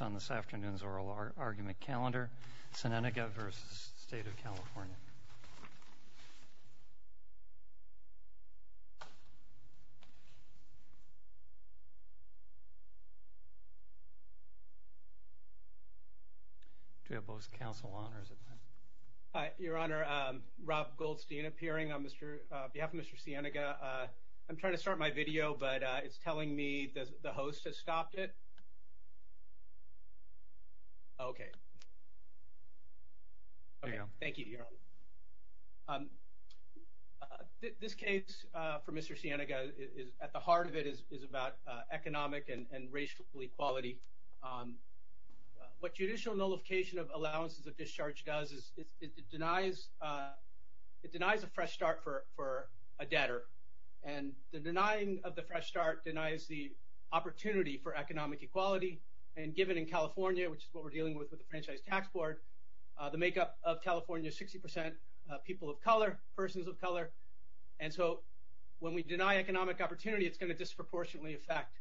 on this afternoon's oral argument calendar, Sienega v. State of California. Do we have both counsel on or is it...? Your Honor, Rob Goldstein appearing on behalf of Mr. Sienega. I'm trying to start my video, but it's telling me the host has stopped it. Okay. Thank you, Your Honor. This case for Mr. Sienega, at the heart of it, is about economic and racial equality. What judicial nullification of allowances of discharge does is it denies a fresh start for a debtor. And the denying of the fresh start denies the opportunity for economic equality. And given in California, which is what we're dealing with with the Franchise Tax Board, the makeup of California is 60 percent people of color, persons of color. And so when we deny economic opportunity, it's going to disproportionately affect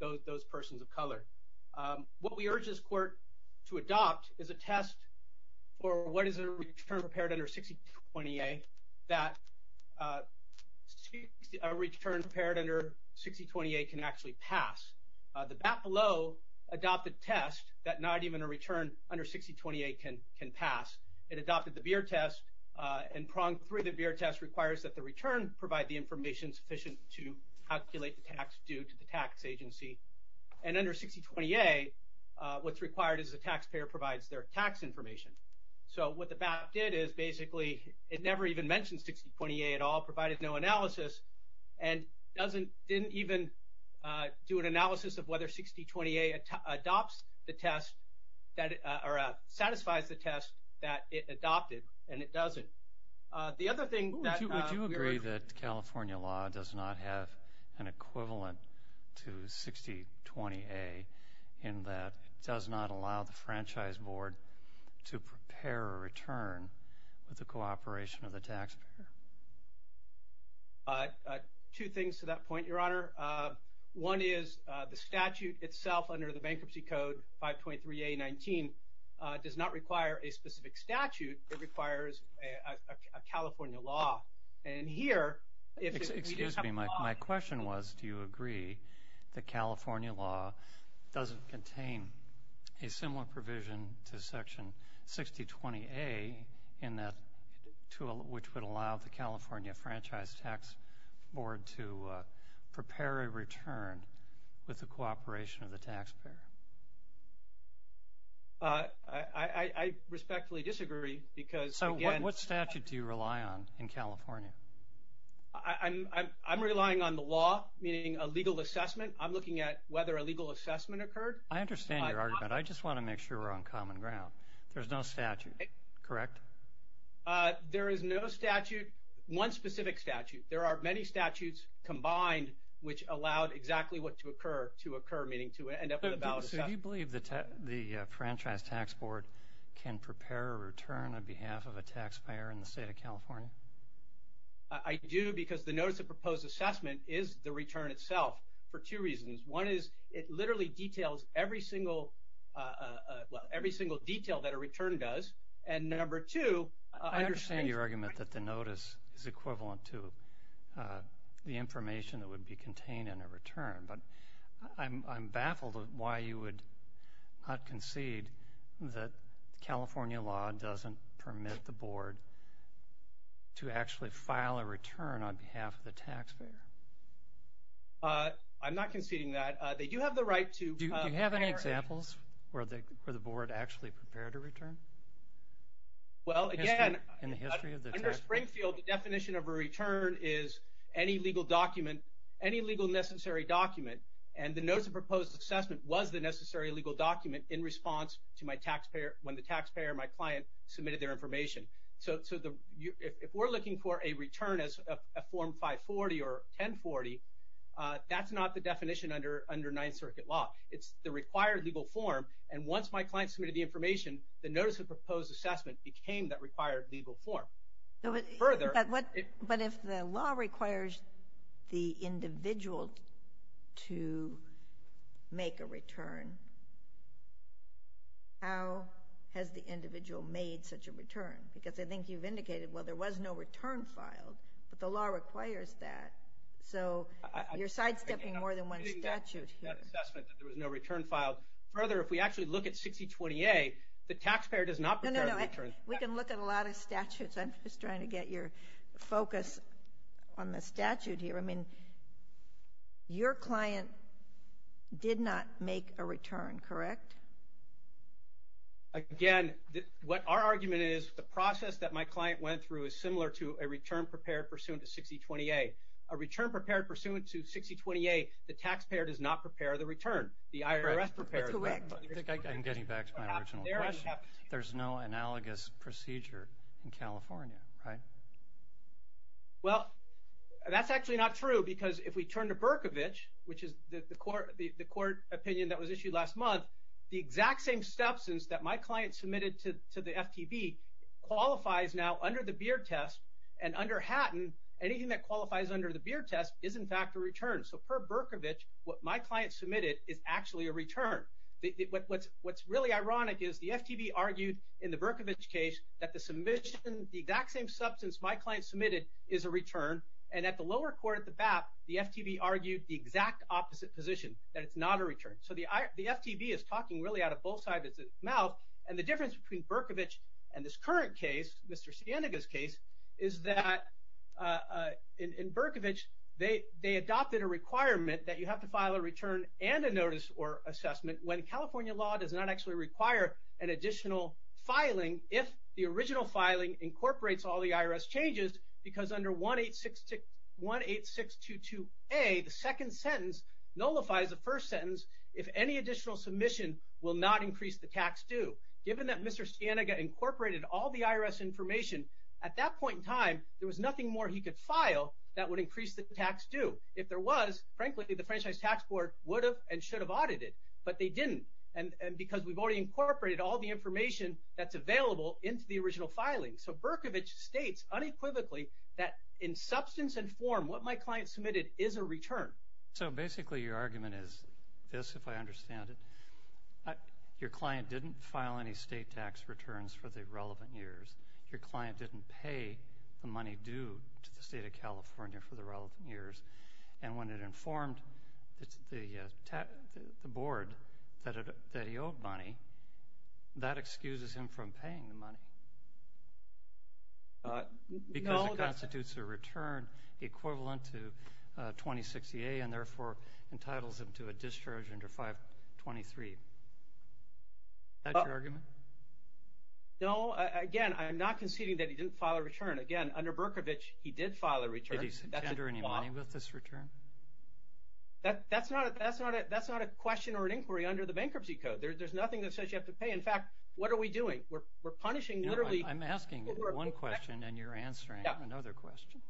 those persons of color. What we urge this court to adopt is a test for what is a return prepared under 6020A that a return prepared under 6020A can actually pass. The Bapelot adopted a test that not even a return under 6020A can pass. It adopted the Beer Test. And pronged through the Beer Test requires that the return provide the information sufficient to calculate the tax due to the tax agency. And under 6020A, what's required is the taxpayer provides their tax information. So what the BAP did is basically it never even mentioned 6020A at all, provided no analysis, and didn't even do an analysis of whether 6020A adopts the test or satisfies the test that it adopted. And it doesn't. The other thing that we were. Would you agree that California law does not have an equivalent to 6020A in that it does not allow the franchise board to prepare a return with the cooperation of the taxpayer? Two things to that point, Your Honor. One is the statute itself under the Bankruptcy Code, 523A19, does not require a specific statute. It requires a California law. Excuse me. My question was, do you agree that California law doesn't contain a similar provision to section 6020A in that tool which would allow the California Franchise Tax Board to prepare a return with the cooperation of the taxpayer? I respectfully disagree because. So what statute do you rely on in California? I'm relying on the law, meaning a legal assessment. I'm looking at whether a legal assessment occurred. I understand your argument. I just want to make sure we're on common ground. There's no statute, correct? There is no statute, one specific statute. There are many statutes combined which allowed exactly what to occur to occur, meaning to end up with a valid statute. So do you believe the Franchise Tax Board can prepare a return on behalf of a taxpayer in the state of California? I do because the Notice of Proposed Assessment is the return itself for two reasons. One is it literally details every single detail that a return does. And number two. I understand your argument that the notice is equivalent to the information that would be contained in a return. But I'm baffled at why you would not concede that California law doesn't permit the board to actually file a return on behalf of the taxpayer. I'm not conceding that. They do have the right to. Do you have any examples where the board actually prepared a return? Well, again, under Springfield, the definition of a return is any legal document, any legal necessary document, and the Notice of Proposed Assessment was the necessary legal document in response to when the taxpayer or my client submitted their information. So if we're looking for a return as a Form 540 or 1040, that's not the definition under Ninth Circuit law. It's the required legal form. And once my client submitted the information, the Notice of Proposed Assessment became that required legal form. But if the law requires the individual to make a return, how has the individual made such a return? Because I think you've indicated, well, there was no return filed, but the law requires that. So you're sidestepping more than one statute here. That assessment that there was no return filed. Further, if we actually look at 6020A, the taxpayer does not prepare the return. We can look at a lot of statutes. I'm just trying to get your focus on the statute here. I mean, your client did not make a return, correct? Again, our argument is the process that my client went through is similar to a return prepared pursuant to 6020A. A return prepared pursuant to 6020A, the taxpayer does not prepare the return. The IRS prepares it. That's correct. I think I'm getting back to my original question. There's no analogous procedure in California, right? Well, that's actually not true because if we turn to Berkovich, which is the court opinion that was issued last month, the exact same substance that my client submitted to the FTB qualifies now under the Beard Test. And under Hatton, anything that qualifies under the Beard Test is, in fact, a return. So per Berkovich, what my client submitted is actually a return. What's really ironic is the FTB argued in the Berkovich case that the submission, the exact same substance my client submitted is a return. And at the lower court at the BAP, the FTB argued the exact opposite position, that it's not a return. So the FTB is talking really out of both sides of its mouth. And the difference between Berkovich and this current case, Mr. Sienega's case, is that in Berkovich, they adopted a requirement that you have to file a return and a notice or assessment when California law does not actually require an additional filing if the original filing incorporates all the IRS changes because under 18622A, the second sentence nullifies the first sentence if any additional submission will not increase the tax due. Given that Mr. Sienega incorporated all the IRS information, at that point in time, there was nothing more he could file that would increase the tax due. If there was, frankly, the Franchise Tax Board would have and should have audited, but they didn't because we've already incorporated all the information that's available into the original filing. So Berkovich states unequivocally that in substance and form, what my client submitted is a return. So basically your argument is this, if I understand it. Your client didn't file any state tax returns for the relevant years. Your client didn't pay the money due to the State of California for the relevant years. And when it informed the Board that he owed money, that excuses him from paying the money. Because it constitutes a return equivalent to 2060A and, therefore, entitles him to a discharge under 523. Is that your argument? No. Again, I'm not conceding that he didn't file a return. Again, under Berkovich, he did file a return. Did he subtender any money with this return? That's not a question or an inquiry under the Bankruptcy Code. There's nothing that says you have to pay. In fact, what are we doing? We're punishing literally people who are – I'm asking one question and you're answering another question.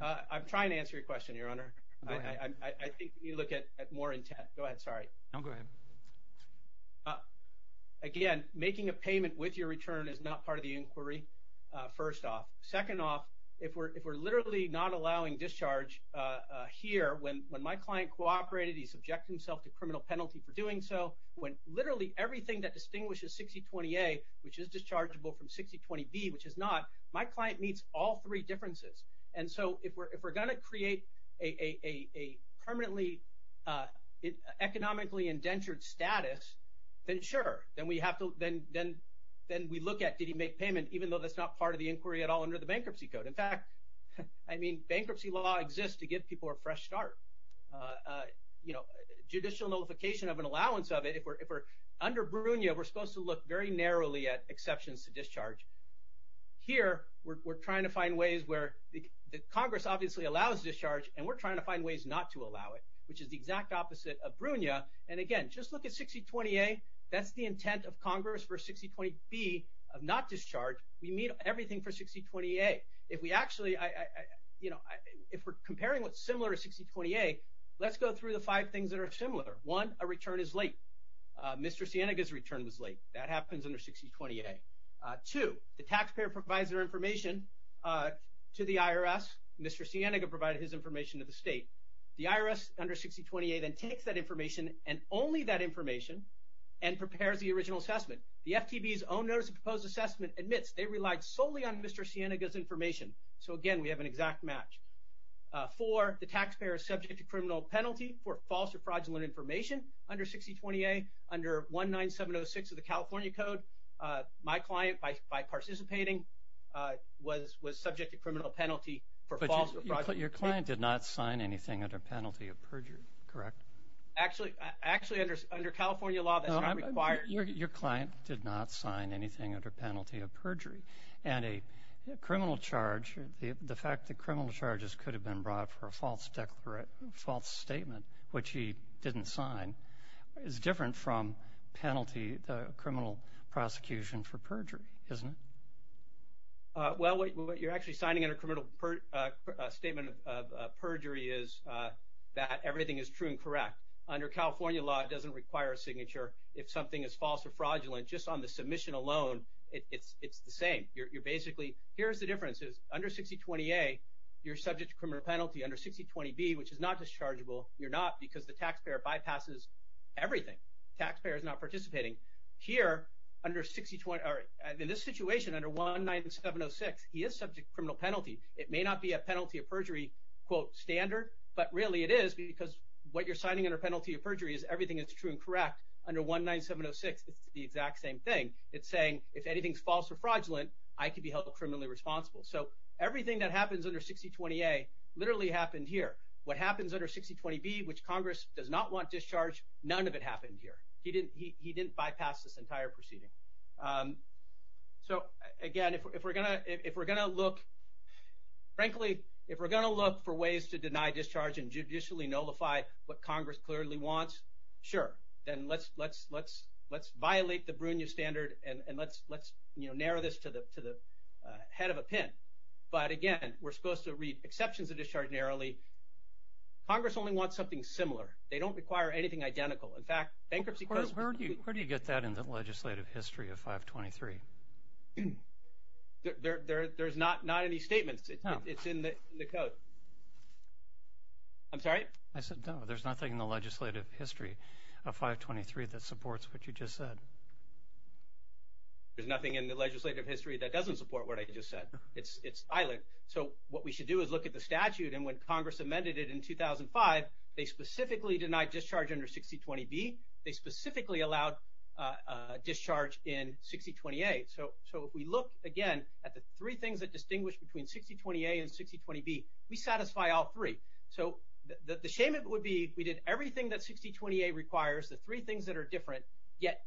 I'm trying to answer your question, Your Honor. Go ahead. I think you need to look at more intent. Go ahead. Sorry. No, go ahead. Again, making a payment with your return is not part of the inquiry, first off. Second off, if we're literally not allowing discharge here, when my client cooperated, he subjected himself to criminal penalty for doing so. When literally everything that distinguishes 6020A, which is dischargeable from 6020B, which is not, my client meets all three differences. And so if we're going to create a permanently economically indentured status, then sure. Then we have to – then we look at did he make payment, even though that's not part of the inquiry at all under the Bankruptcy Code. In fact, I mean, bankruptcy law exists to give people a fresh start. Judicial notification of an allowance of it, if we're – under Brunio, we're supposed to look very narrowly at exceptions to discharge. Here, we're trying to find ways where the Congress obviously allows discharge, and we're trying to find ways not to allow it, which is the exact opposite of Brunio. And again, just look at 6020A. That's the intent of Congress for 6020B of not discharge. We meet everything for 6020A. If we actually – you know, if we're comparing what's similar to 6020A, let's go through the five things that are similar. One, a return is late. Mr. Sienega's return was late. That happens under 6020A. Two, the taxpayer provides their information to the IRS. Mr. Sienega provided his information to the state. The IRS under 6020A then takes that information and only that information and prepares the original assessment. The FTB's own notice of proposed assessment admits they relied solely on Mr. Sienega's information. So again, we have an exact match. Four, the taxpayer is subject to criminal penalty for false or fraudulent information under 6020A. Under 19706 of the California Code, my client, by participating, was subject to criminal penalty for false or fraudulent information. But your client did not sign anything under penalty of perjury, correct? Actually, under California law, that's not required. Your client did not sign anything under penalty of perjury. And a criminal charge, the fact that criminal charges could have been brought for a false statement, which he didn't sign, is different from penalty, the criminal prosecution for perjury, isn't it? Well, what you're actually signing under criminal statement of perjury is that everything is true and correct. Under California law, it doesn't require a signature if something is false or fraudulent. Just on the submission alone, it's the same. You're basically, here's the difference. Under 6020A, you're subject to criminal penalty. Under 6020B, which is not dischargeable, you're not because the taxpayer bypasses everything. Taxpayer is not participating. Here, under 6020, or in this situation, under 19706, he is subject to criminal penalty. It may not be a penalty of perjury, quote, standard, but really it is because what you're signing under penalty of perjury is everything is true and correct. Under 19706, it's the exact same thing. It's saying if anything is false or fraudulent, I could be held criminally responsible. So everything that happens under 6020A literally happened here. What happens under 6020B, which Congress does not want discharge, none of it happened here. He didn't bypass this entire proceeding. So, again, if we're going to look, frankly, if we're going to look for ways to deny discharge and judicially nullify what Congress clearly wants, sure. Then let's violate the Brunia standard and let's, you know, narrow this to the head of a pin. But, again, we're supposed to read exceptions of discharge narrowly. Congress only wants something similar. They don't require anything identical. In fact, bankruptcy courts. Where do you get that in the legislative history of 523? There's not any statements. It's in the code. I'm sorry? I said no. There's nothing in the legislative history of 523 that supports what you just said. There's nothing in the legislative history that doesn't support what I just said. It's silent. So what we should do is look at the statute. And when Congress amended it in 2005, they specifically denied discharge under 6020B. They specifically allowed discharge in 6020A. So if we look, again, at the three things that distinguish between 6020A and 6020B, we satisfy all three. So the shame would be we did everything that 6020A requires, the three things that are different, yet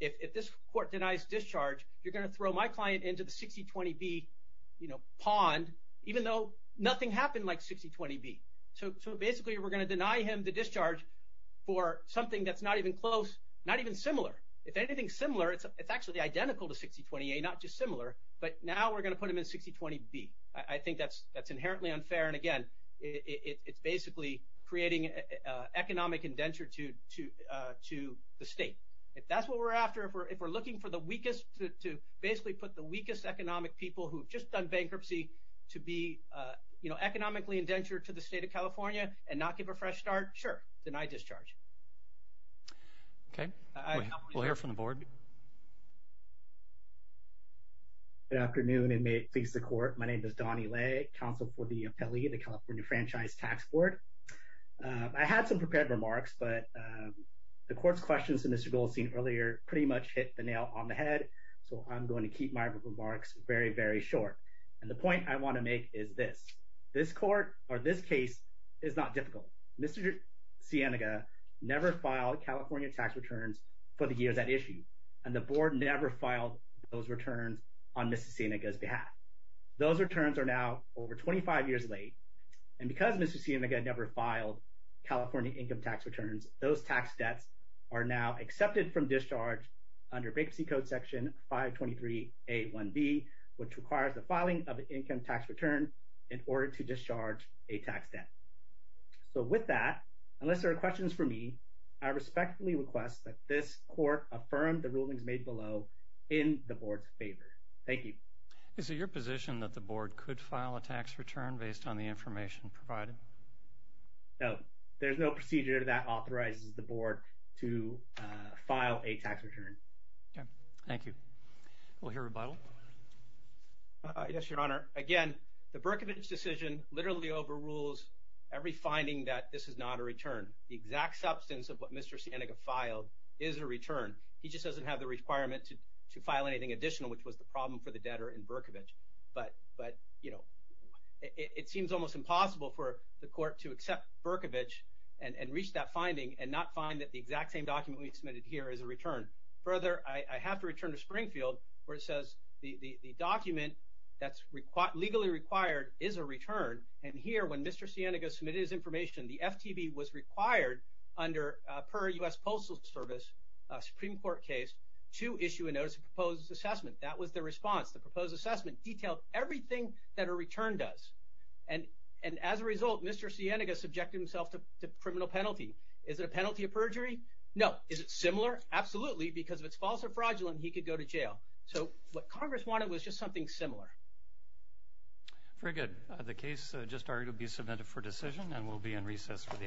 if this court denies discharge, you're going to throw my client into the 6020B, you know, pond, even though nothing happened like 6020B. So basically we're going to deny him the discharge for something that's not even close, not even similar. If anything's similar, it's actually identical to 6020A, not just similar. But now we're going to put him in 6020B. I think that's inherently unfair. And, again, it's basically creating economic indenture to the state. If that's what we're after, if we're looking for the weakest to basically put the weakest economic people who have just done bankruptcy to be, you know, economically indentured to the state of California and not give a fresh start, sure, deny discharge. Okay. We'll hear from the board. Good afternoon, and may it please the Court. My name is Donnie Lay, Counsel for the Appellee of the California Franchise Tax Board. I had some prepared remarks, but the Court's questions to Mr. Goldstein earlier pretty much hit the nail on the head, so I'm going to keep my remarks very, very short. And the point I want to make is this. This court or this case is not difficult. Mr. Sienega never filed California tax returns for the years at issue, and the board never filed those returns on Mr. Sienega's behalf. Those returns are now over 25 years late, and because Mr. Sienega never filed California income tax returns, those tax debts are now accepted from discharge under Bankruptcy Code Section 523A1B, which requires the filing of an income tax return in order to discharge a tax debt. So with that, unless there are questions for me, I respectfully request that this court affirm the rulings made below in the board's favor. Thank you. Is it your position that the board could file a tax return based on the information provided? No. There's no procedure that authorizes the board to file a tax return. Okay. Thank you. We'll hear rebuttal. Yes, Your Honor. Again, the Berkovich decision literally overrules every finding that this is not a return. The exact substance of what Mr. Sienega filed is a return. He just doesn't have the requirement to file anything additional, which was the problem for the debtor in Berkovich. But, you know, it seems almost impossible for the court to accept Berkovich and reach that finding and not find that the exact same document we submitted here is a return. Further, I have to return to Springfield where it says the document that's legally required is a return. And here, when Mr. Sienega submitted his information, the FTB was required under per U.S. Postal Service Supreme Court case to issue a notice of proposed assessment. That was the response. The proposed assessment detailed everything that a return does. And as a result, Mr. Sienega subjected himself to criminal penalty. Is it a penalty of perjury? No. Is it similar? Absolutely, because if it's false or fraudulent, he could go to jail. So what Congress wanted was just something similar. Very good. The case just argued will be submitted for decision and will be in recess for the afternoon.